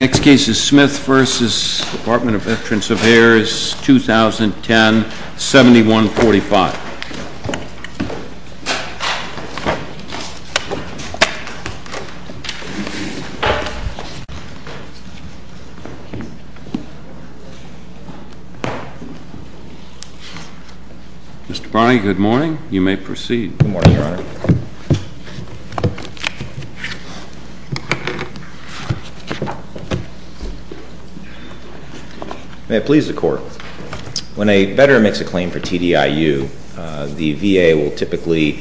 Next case is Smith v. Department of Veterans Affairs, 2010, 7145. Mr. Barney, good morning. You may proceed. May it please the Court, when a veteran makes a claim for TDIU, the VA will typically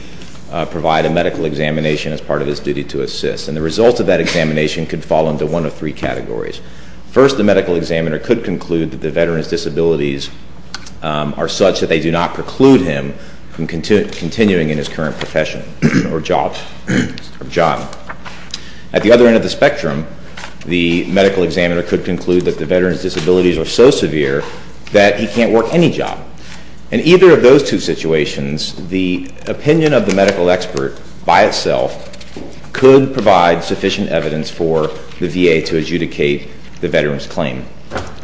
provide a medical examination as part of his duty to assist. And the results of that examination could fall into one of three categories. First, the medical examiner could conclude that the veteran's disabilities are such that they do not preclude him from continuing in his current profession or job. At the other end of the spectrum, the medical examiner could conclude that the veteran's disabilities are so severe that he can't work any job. In either of those two situations, the opinion of the medical expert by itself could provide sufficient evidence for the VA to adjudicate the veteran's claim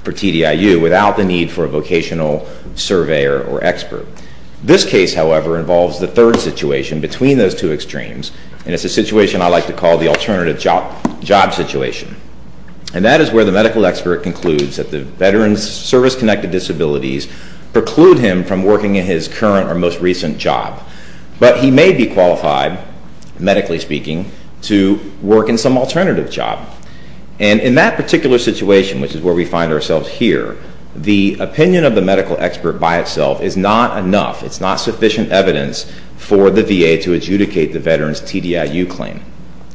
for TDIU without the need for a vocational surveyor or expert. This case, however, involves the third situation between those two extremes, and it's a situation I like to call the alternative job situation. And that is where the medical expert concludes that the veteran's service-connected disabilities preclude him from working in his current or most recent job. But he may be qualified, medically speaking, to work in some alternative job. And in that particular situation, which is where we find ourselves here, the opinion of the medical expert by itself is not enough. It's not sufficient evidence for the VA to adjudicate the veteran's TDIU claim.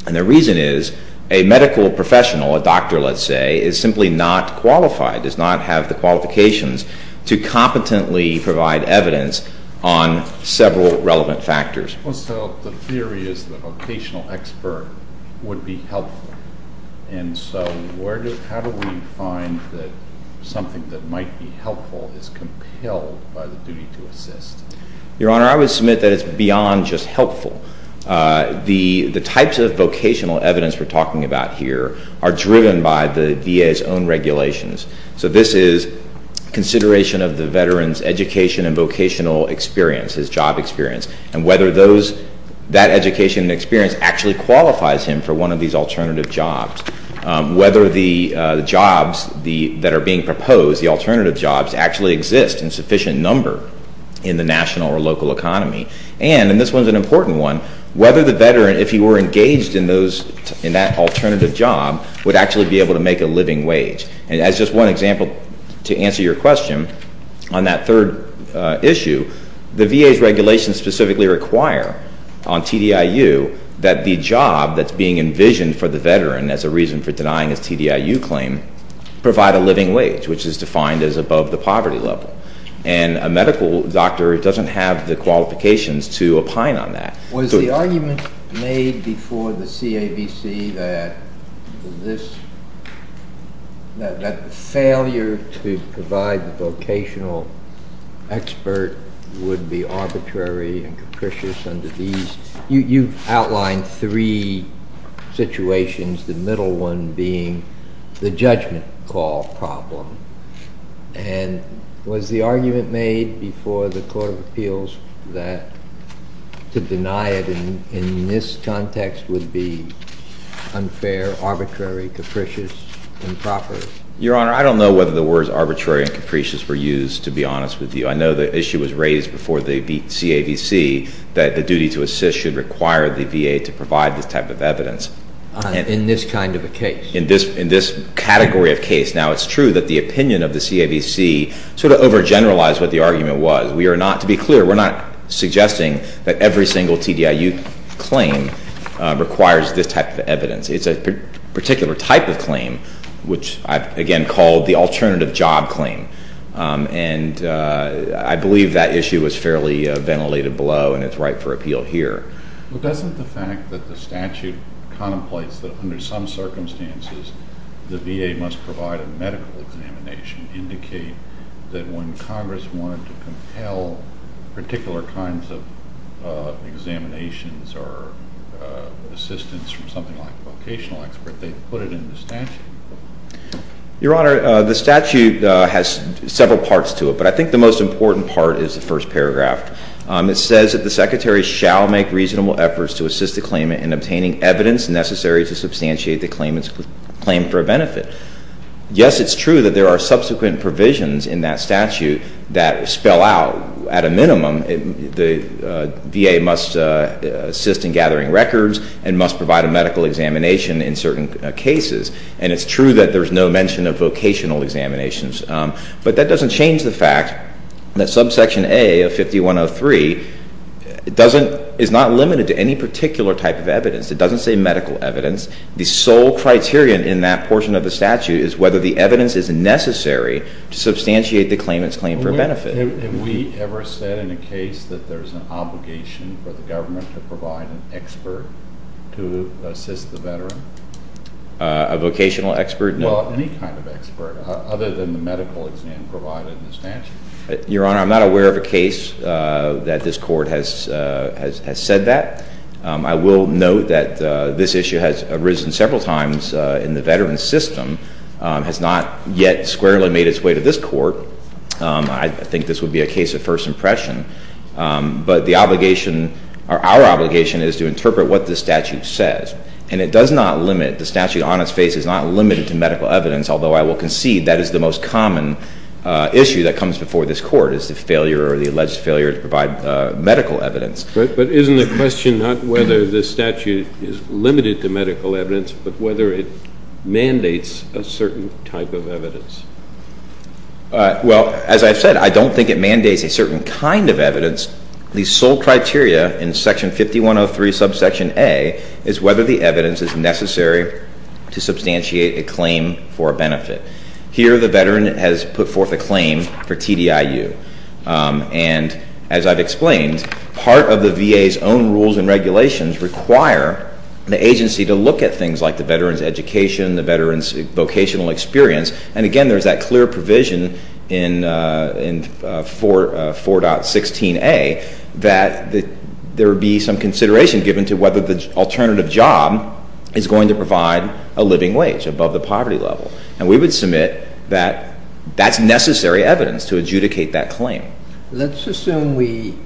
And the reason is a medical professional, a doctor, let's say, is simply not qualified, does not have the qualifications to competently provide evidence on several relevant factors. Well, so the theory is the vocational expert would be helpful. And so how do we find that something that might be helpful is compelled by the duty to assist? Your Honor, I would submit that it's beyond just helpful. The types of vocational evidence we're talking about here are driven by the VA's own regulations. So this is consideration of the veteran's education and vocational experience, his job experience, and whether that education and experience actually qualifies him for one of these alternative jobs. Whether the jobs that are being proposed, the alternative jobs, actually exist in sufficient number in the national or local economy. And, and this one's an important one, whether the veteran, if he were engaged in that alternative job, would actually be able to make a living wage. And as just one example, to answer your question, on that third issue, the VA's regulations specifically require on TDIU that the job that's being envisioned for the veteran as a reason for denying his TDIU claim provide a living wage, which is defined as above the poverty level. And a medical doctor doesn't have the qualifications to opine on that. Was the argument made before the CAVC that this, that the failure to provide the vocational expert would be arbitrary and capricious under these? You've outlined three situations, the middle one being the judgment call problem. And was the argument made before the Court of Appeals that to deny it in this context would be unfair, arbitrary, capricious, improper? Your Honor, I don't know whether the words arbitrary and capricious were used, to be honest with you. I know the issue was raised before the CAVC that the duty to assist should require the VA to provide this type of evidence. In this kind of a case? In this category of case. Now, it's true that the opinion of the CAVC sort of overgeneralized what the argument was. We are not, to be clear, we're not suggesting that every single TDIU claim requires this type of evidence. It's a particular type of claim, which I've, again, called the alternative job claim. And I believe that issue was fairly ventilated below, and it's ripe for appeal here. But doesn't the fact that the statute contemplates that under some circumstances the VA must provide a medical examination indicate that when Congress wanted to compel particular kinds of examinations or assistance from something like a vocational expert, they put it in the statute? Your Honor, the statute has several parts to it, but I think the most important part is the first paragraph. It says that the secretary shall make reasonable efforts to assist the claimant in obtaining evidence necessary to substantiate the claimant's claim for a benefit. Yes, it's true that there are subsequent provisions in that statute that spell out, at a minimum, the VA must assist in gathering records and must provide a medical examination in certain cases. And it's true that there's no mention of vocational examinations. But that doesn't change the fact that subsection A of 5103 is not limited to any particular type of evidence. It doesn't say medical evidence. The sole criterion in that portion of the statute is whether the evidence is necessary to substantiate the claimant's claim for a benefit. Have we ever said in a case that there's an obligation for the government to provide an expert to assist the veteran? A vocational expert? Well, any kind of expert, other than the medical exam provided in the statute. Your Honor, I'm not aware of a case that this Court has said that. I will note that this issue has arisen several times in the veteran's system, has not yet squarely made its way to this Court. I think this would be a case of first impression. But the obligation, or our obligation, is to interpret what the statute says. And it does not limit. The statute on its face is not limited to medical evidence, although I will concede that is the most common issue that comes before this Court, is the failure or the alleged failure to provide medical evidence. But isn't the question not whether the statute is limited to medical evidence, but whether it mandates a certain type of evidence? Well, as I've said, I don't think it mandates a certain kind of evidence. The sole criteria in Section 5103, Subsection A, is whether the evidence is necessary to substantiate a claim for a benefit. Here, the veteran has put forth a claim for TDIU. And as I've explained, part of the VA's own rules and regulations require the agency to look at things like the veteran's education, the veteran's vocational experience. And again, there's that clear provision in 4.16a that there would be some consideration given to whether the alternative job is going to provide a living wage above the poverty level. And we would submit that that's necessary evidence to adjudicate that claim. Okay. Let's assume we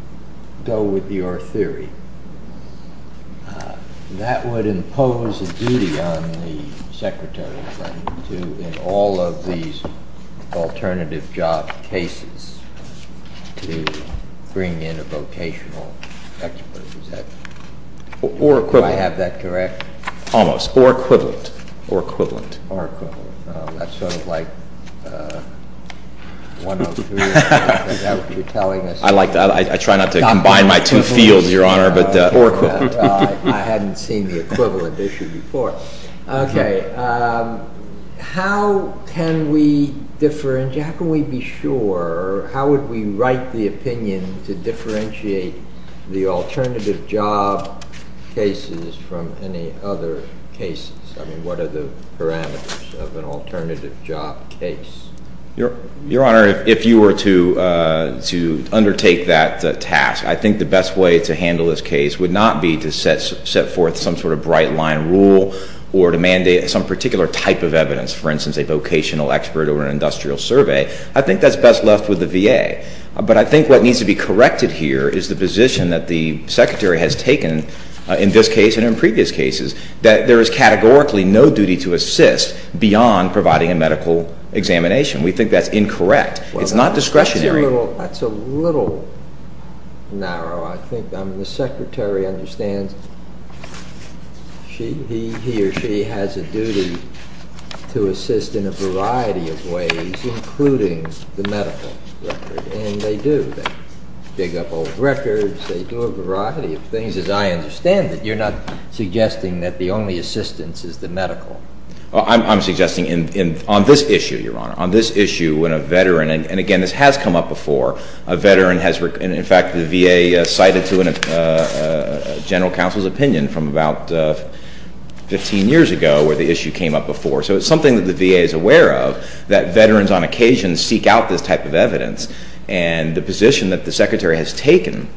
go with your theory. That would impose a duty on the Secretary of State to, in all of these alternative job cases, to bring in a vocational expert. Or equivalent. Do I have that correct? Almost. Or equivalent. Or equivalent. That's sort of like 103, I think that's what you're telling us. I like that. I try not to combine my two fields, Your Honor. Or equivalent. I hadn't seen the equivalent issue before. Okay. How can we be sure, how would we write the opinion to differentiate the alternative job cases from any other cases? I mean, what are the parameters of an alternative job case? Your Honor, if you were to undertake that task, I think the best way to handle this case would not be to set forth some sort of bright line rule or to mandate some particular type of evidence. For instance, a vocational expert or an industrial survey. I think that's best left with the VA. But I think what needs to be corrected here is the position that the Secretary has taken in this case and in previous cases. That there is categorically no duty to assist beyond providing a medical examination. We think that's incorrect. It's not discretionary. That's a little narrow. I think the Secretary understands he or she has a duty to assist in a variety of ways, including the medical record. And they do. They dig up old records. They do a variety of things. As I understand it, you're not suggesting that the only assistance is the medical. I'm suggesting on this issue, Your Honor, on this issue when a veteran, and again, this has come up before, a veteran has, in fact, the VA cited to a general counsel's opinion from about 15 years ago where the issue came up before. So it's something that the VA is aware of that veterans on occasion seek out this type of evidence. And the position that the Secretary has taken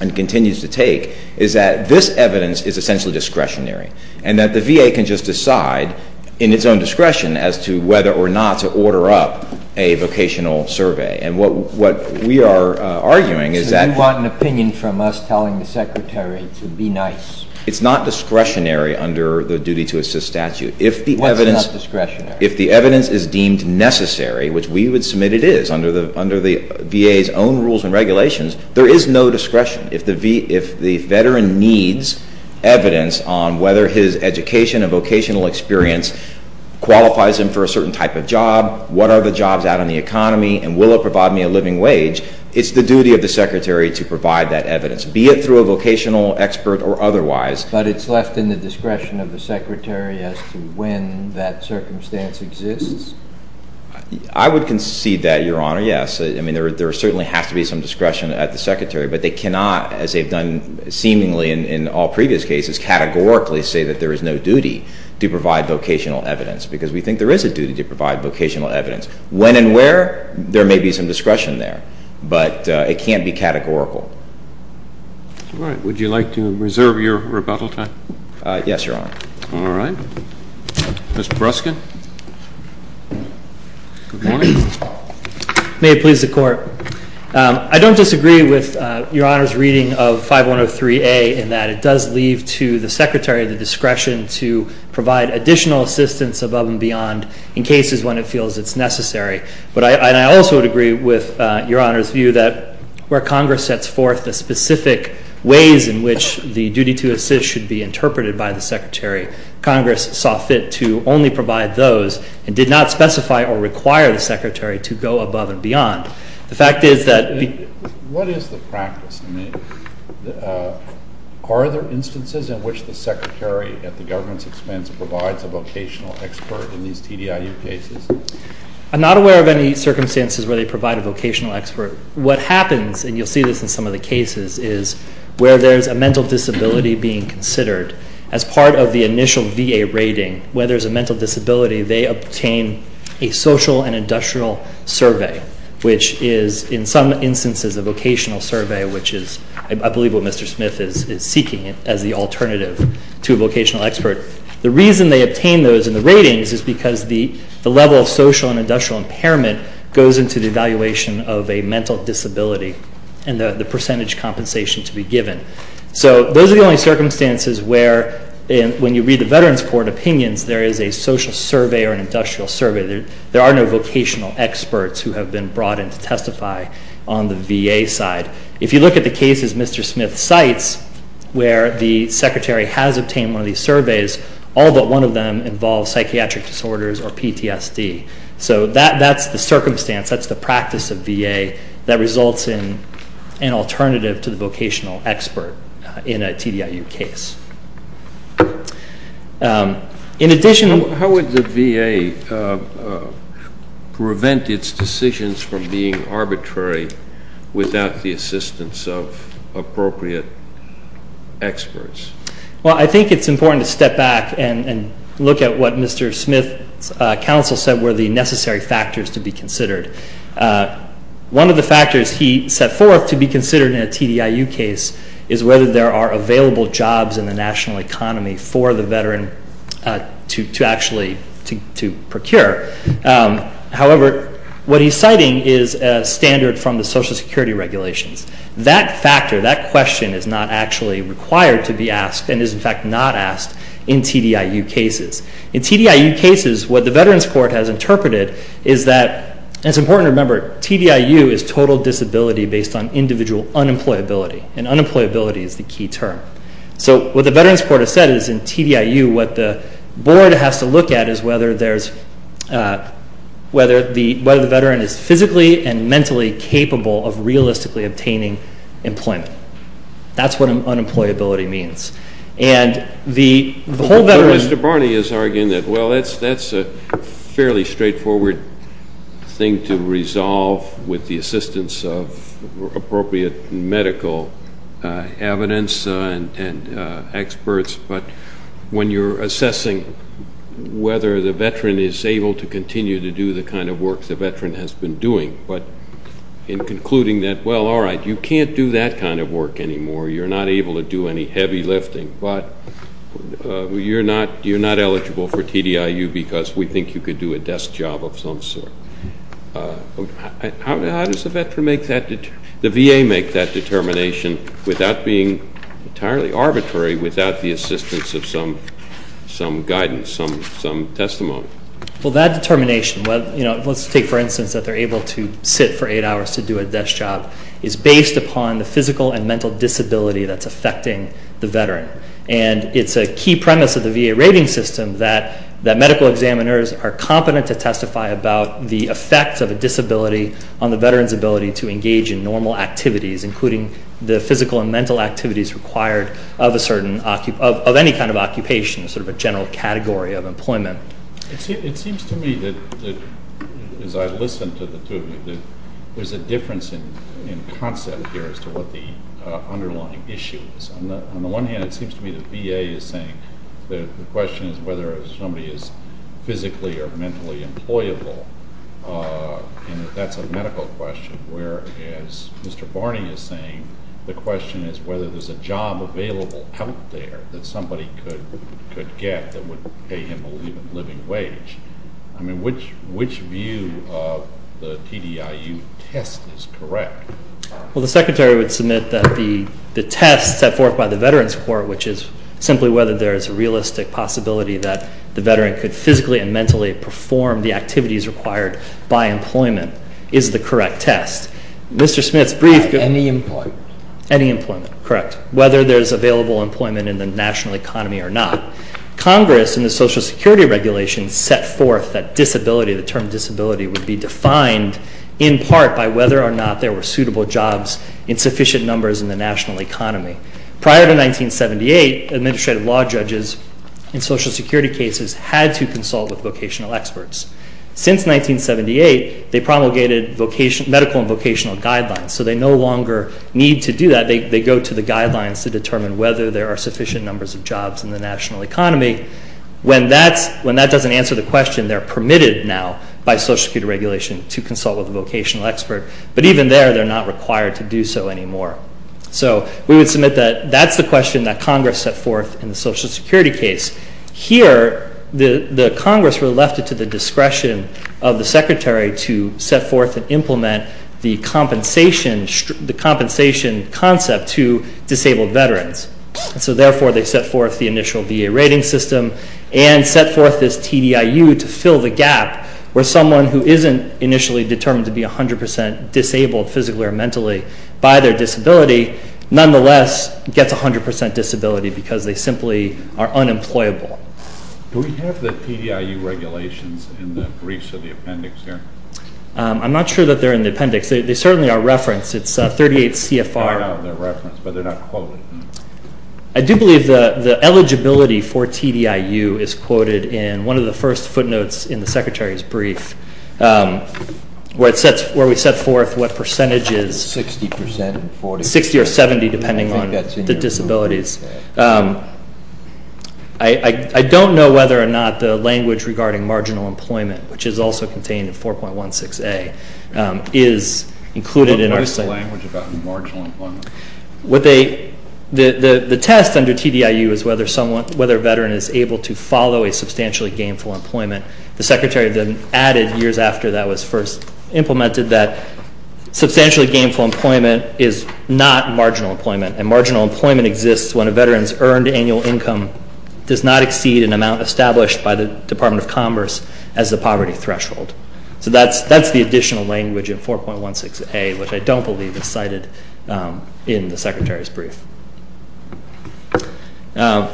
and continues to take is that this evidence is essentially discretionary. And that the VA can just decide in its own discretion as to whether or not to order up a vocational survey. And what we are arguing is that you want an opinion from us telling the Secretary to be nice. It's not discretionary under the duty to assist statute. What's not discretionary? If the evidence is deemed necessary, which we would submit it is under the VA's own rules and regulations, there is no discretion. If the veteran needs evidence on whether his education and vocational experience qualifies him for a certain type of job, what are the jobs out in the economy, and will it provide me a living wage, it's the duty of the Secretary to provide that evidence. Be it through a vocational expert or otherwise. But it's left in the discretion of the Secretary as to when that circumstance exists? I would concede that, Your Honor, yes. I mean, there certainly has to be some discretion at the Secretary. But they cannot, as they've done seemingly in all previous cases, categorically say that there is no duty to provide vocational evidence. Because we think there is a duty to provide vocational evidence. When and where, there may be some discretion there. But it can't be categorical. All right. Would you like to reserve your rebuttal time? Yes, Your Honor. All right. Mr. Bruskin. Good morning. May it please the Court. I don't disagree with Your Honor's reading of 5103A in that it does leave to the Secretary the discretion to provide additional assistance above and beyond in cases when it feels it's necessary. But I also would agree with Your Honor's view that where Congress sets forth the specific ways in which the duty to assist should be interpreted by the Secretary, Congress saw fit to only provide those and did not specify or require the Secretary to go above and beyond. The fact is that the — What is the practice? Are there instances in which the Secretary, at the government's expense, provides a vocational expert in these TDIU cases? I'm not aware of any circumstances where they provide a vocational expert. What happens, and you'll see this in some of the cases, is where there's a mental disability being considered, as part of the initial VA rating, where there's a mental disability, they obtain a social and industrial survey, which is, in some instances, a vocational survey, which is, I believe, what Mr. Smith is seeking as the alternative to a vocational expert. The reason they obtain those in the ratings is because the level of social and industrial impairment goes into the evaluation of a mental disability and the percentage compensation to be given. So those are the only circumstances where, when you read the Veterans Court opinions, there is a social survey or an industrial survey. There are no vocational experts who have been brought in to testify on the VA side. If you look at the cases Mr. Smith cites, where the Secretary has obtained one of these surveys, all but one of them involve psychiatric disorders or PTSD. So that's the circumstance. That's the practice of VA that results in an alternative to the vocational expert in a TDIU case. In addition... How would the VA prevent its decisions from being arbitrary without the assistance of appropriate experts? Well, I think it's important to step back and look at what Mr. Smith's counsel said were the necessary factors to be considered. One of the factors he set forth to be considered in a TDIU case is whether there are available jobs in the national economy for the veteran to actually procure. However, what he's citing is a standard from the Social Security regulations. That factor, that question, is not actually required to be asked and is, in fact, not asked in TDIU cases. In TDIU cases, what the Veterans Court has interpreted is that it's important to remember, TDIU is total disability based on individual unemployability, and unemployability is the key term. So what the Veterans Court has said is in TDIU what the board has to look at is whether the veteran is physically and mentally capable of realistically obtaining employment. That's what unemployability means. And the whole veteran... Mr. Barney is arguing that, well, that's a fairly straightforward thing to resolve with the assistance of appropriate medical evidence and experts, but when you're assessing whether the veteran is able to continue to do the kind of work the veteran has been doing, but in concluding that, well, all right, you can't do that kind of work anymore, you're not able to do any heavy lifting, but you're not eligible for TDIU because we think you could do a desk job of some sort. How does the VA make that determination without being entirely arbitrary, without the assistance of some guidance, some testimony? Well, that determination, let's take for instance that they're able to sit for 8 hours to do a desk job, is based upon the physical and mental disability that's affecting the veteran. And it's a key premise of the VA rating system that medical examiners are competent to testify about the effects of a disability on the veteran's ability to engage in normal activities, including the physical and mental activities required of any kind of occupation, sort of a general category of employment. It seems to me that, as I listened to the two of you, that there's a difference in concept here as to what the underlying issue is. On the one hand, it seems to me the VA is saying the question is whether somebody is physically or mentally employable, and that's a medical question, whereas Mr. Barney is saying the question is whether there's a job available out there that somebody could get that would pay him a living wage. I mean, which view of the TDIU test is correct? Well, the Secretary would submit that the test set forth by the Veterans Court, which is simply whether there is a realistic possibility that the veteran could physically and mentally perform the activities required by employment, is the correct test. Mr. Smith's brief could... Any employment. Any employment, correct, whether there's available employment in the national economy or not. Congress in the Social Security Regulation set forth that disability, the term disability, would be defined in part by whether or not there were suitable jobs in sufficient numbers in the national economy. Prior to 1978, administrative law judges in Social Security cases had to consult with vocational experts. Since 1978, they promulgated medical and vocational guidelines, so they no longer need to do that. They go to the guidelines to determine whether there are sufficient numbers of jobs in the national economy. When that doesn't answer the question, they're permitted now by Social Security Regulation to consult with a vocational expert. But even there, they're not required to do so anymore. So we would submit that that's the question that Congress set forth in the Social Security case. Here, the Congress really left it to the discretion of the Secretary to set forth and implement the compensation concept to disabled veterans. So therefore, they set forth the initial VA rating system and set forth this TDIU to fill the gap where someone who isn't initially determined to be 100% disabled physically or mentally by their disability, nonetheless gets 100% disability because they simply are unemployable. Do we have the TDIU regulations in the briefs or the appendix here? I'm not sure that they're in the appendix. They certainly are referenced. It's 38 CFR. I don't know if they're referenced, but they're not quoted. I do believe the eligibility for TDIU is quoted in one of the first footnotes in the Secretary's brief where we set forth what percentage is 60% or 70% depending on the disabilities. I don't know whether or not the language regarding marginal employment, which is also contained in 4.16A, is included. What is the language about marginal employment? The test under TDIU is whether a veteran is able to follow a substantially gainful employment. The Secretary then added years after that was first implemented that substantially gainful employment is not marginal employment, and marginal employment exists when a veteran's earned annual income does not exceed an amount established by the Department of Commerce as the poverty threshold. So that's the additional language in 4.16A, which I don't believe is cited in the Secretary's brief. I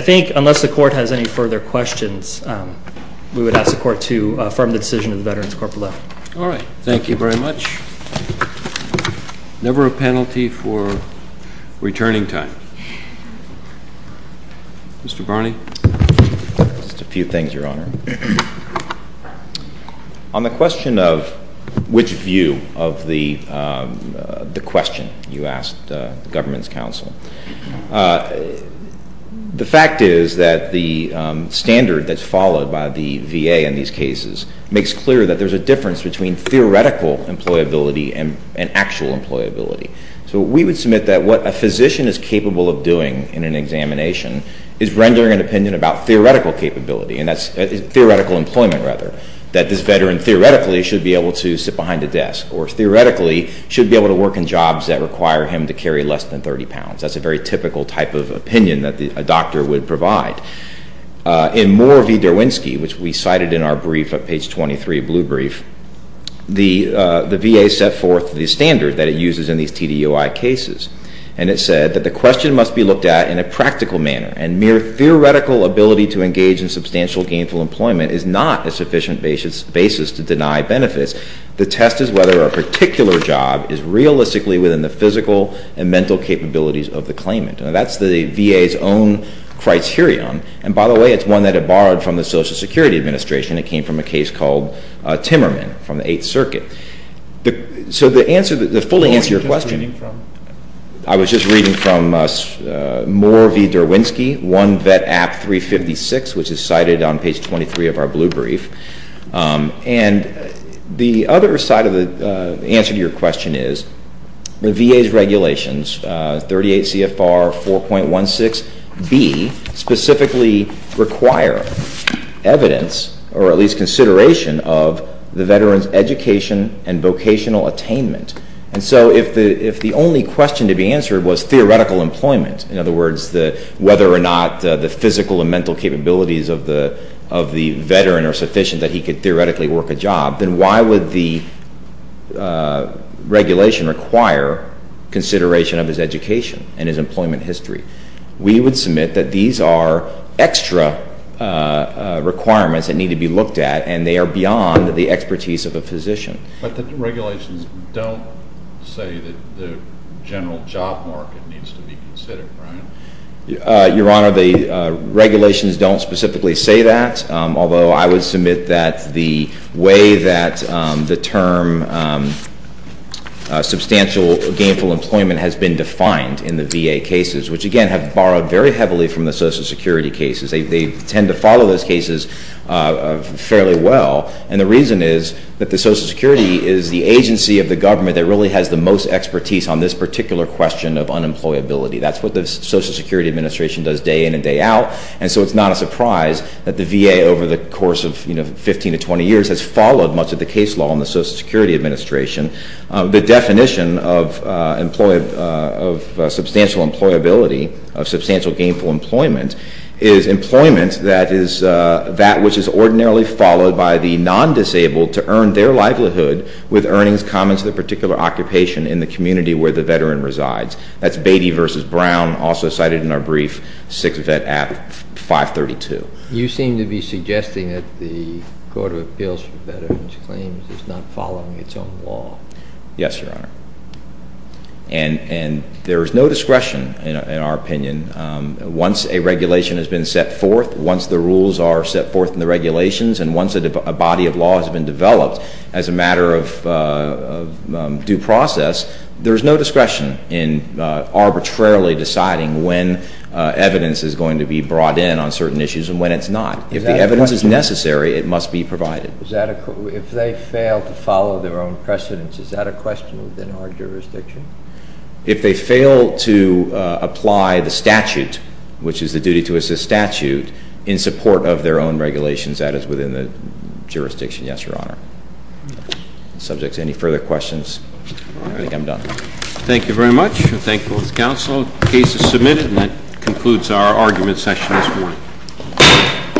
think unless the Court has any further questions, we would ask the Court to affirm the decision of the Veterans Corporate Law. All right. Thank you very much. Never a penalty for returning time. Mr. Barney? Just a few things, Your Honor. On the question of which view of the question you asked the government's counsel, the fact is that the standard that's followed by the VA in these cases makes clear that there's a difference between theoretical employability and actual employability. So we would submit that what a physician is capable of doing in an examination is rendering an opinion about theoretical capability, and that's theoretical employment, rather, that this veteran theoretically should be able to sit behind a desk or theoretically should be able to work in jobs that require him to carry less than 30 pounds. That's a very typical type of opinion that a doctor would provide. In Moore v. Derwinski, which we cited in our brief at page 23, blue brief, the VA set forth the standard that it uses in these TDOI cases, and it said that the question must be looked at in a practical manner and mere theoretical ability to engage in substantial gainful employment is not a sufficient basis to deny benefits. The test is whether a particular job is realistically within the physical and mental capabilities of the claimant. Now, that's the VA's own criterion. And by the way, it's one that it borrowed from the Social Security Administration. It came from a case called Timmerman from the Eighth Circuit. So the answer, the full answer to your question... I was just reading from Moore v. Derwinski, one vet app 356, which is cited on page 23 of our blue brief. And the other side of the answer to your question is the VA's regulations, 38 CFR 4.16b, specifically require evidence or at least consideration of the veteran's education and vocational attainment. And so if the only question to be answered was theoretical employment, in other words, whether or not the physical and mental capabilities of the veteran are sufficient that he could theoretically work a job, then why would the regulation require consideration of his education and his employment history? We would submit that these are extra requirements that need to be looked at and they are beyond the expertise of a physician. But the regulations don't say that the general job market needs to be considered, right? Your Honor, the regulations don't specifically say that, although I would submit that the way that the term substantial gainful employment has been defined in the VA cases, which again have borrowed very heavily from the Social Security cases. They tend to follow those cases fairly well. And the reason is that the Social Security is the agency of the government that really has the most expertise on this particular question of unemployability. That's what the Social Security Administration does day in and day out. And so it's not a surprise that the VA over the course of 15 to 20 years has followed much of the case law in the Social Security Administration. The definition of substantial employability, of substantial gainful employment, is employment that is that which is ordinarily followed by the non-disabled to earn their livelihood with earnings common to the particular occupation in the community where the veteran resides. That's Beatty v. Brown, also cited in our brief, Sixth Vet Act 532. You seem to be suggesting that the Court of Appeals for Veterans Claims is not following its own law. Yes, Your Honor. And there is no discretion in our opinion. Once a regulation has been set forth, once the rules are set forth in the regulations, and once a body of law has been developed as a matter of due process, there is no discretion in arbitrarily deciding when evidence is going to be brought in on certain issues and when it's not. If the evidence is necessary, it must be provided. If they fail to follow their own precedents, is that a question within our jurisdiction? If they fail to apply the statute, which is the duty to assist statute, in support of their own regulations, that is within the jurisdiction, yes, Your Honor. Subject to any further questions? I think I'm done. Thank you very much. We're thankful as counsel. The case is submitted, and that concludes our argument session this morning.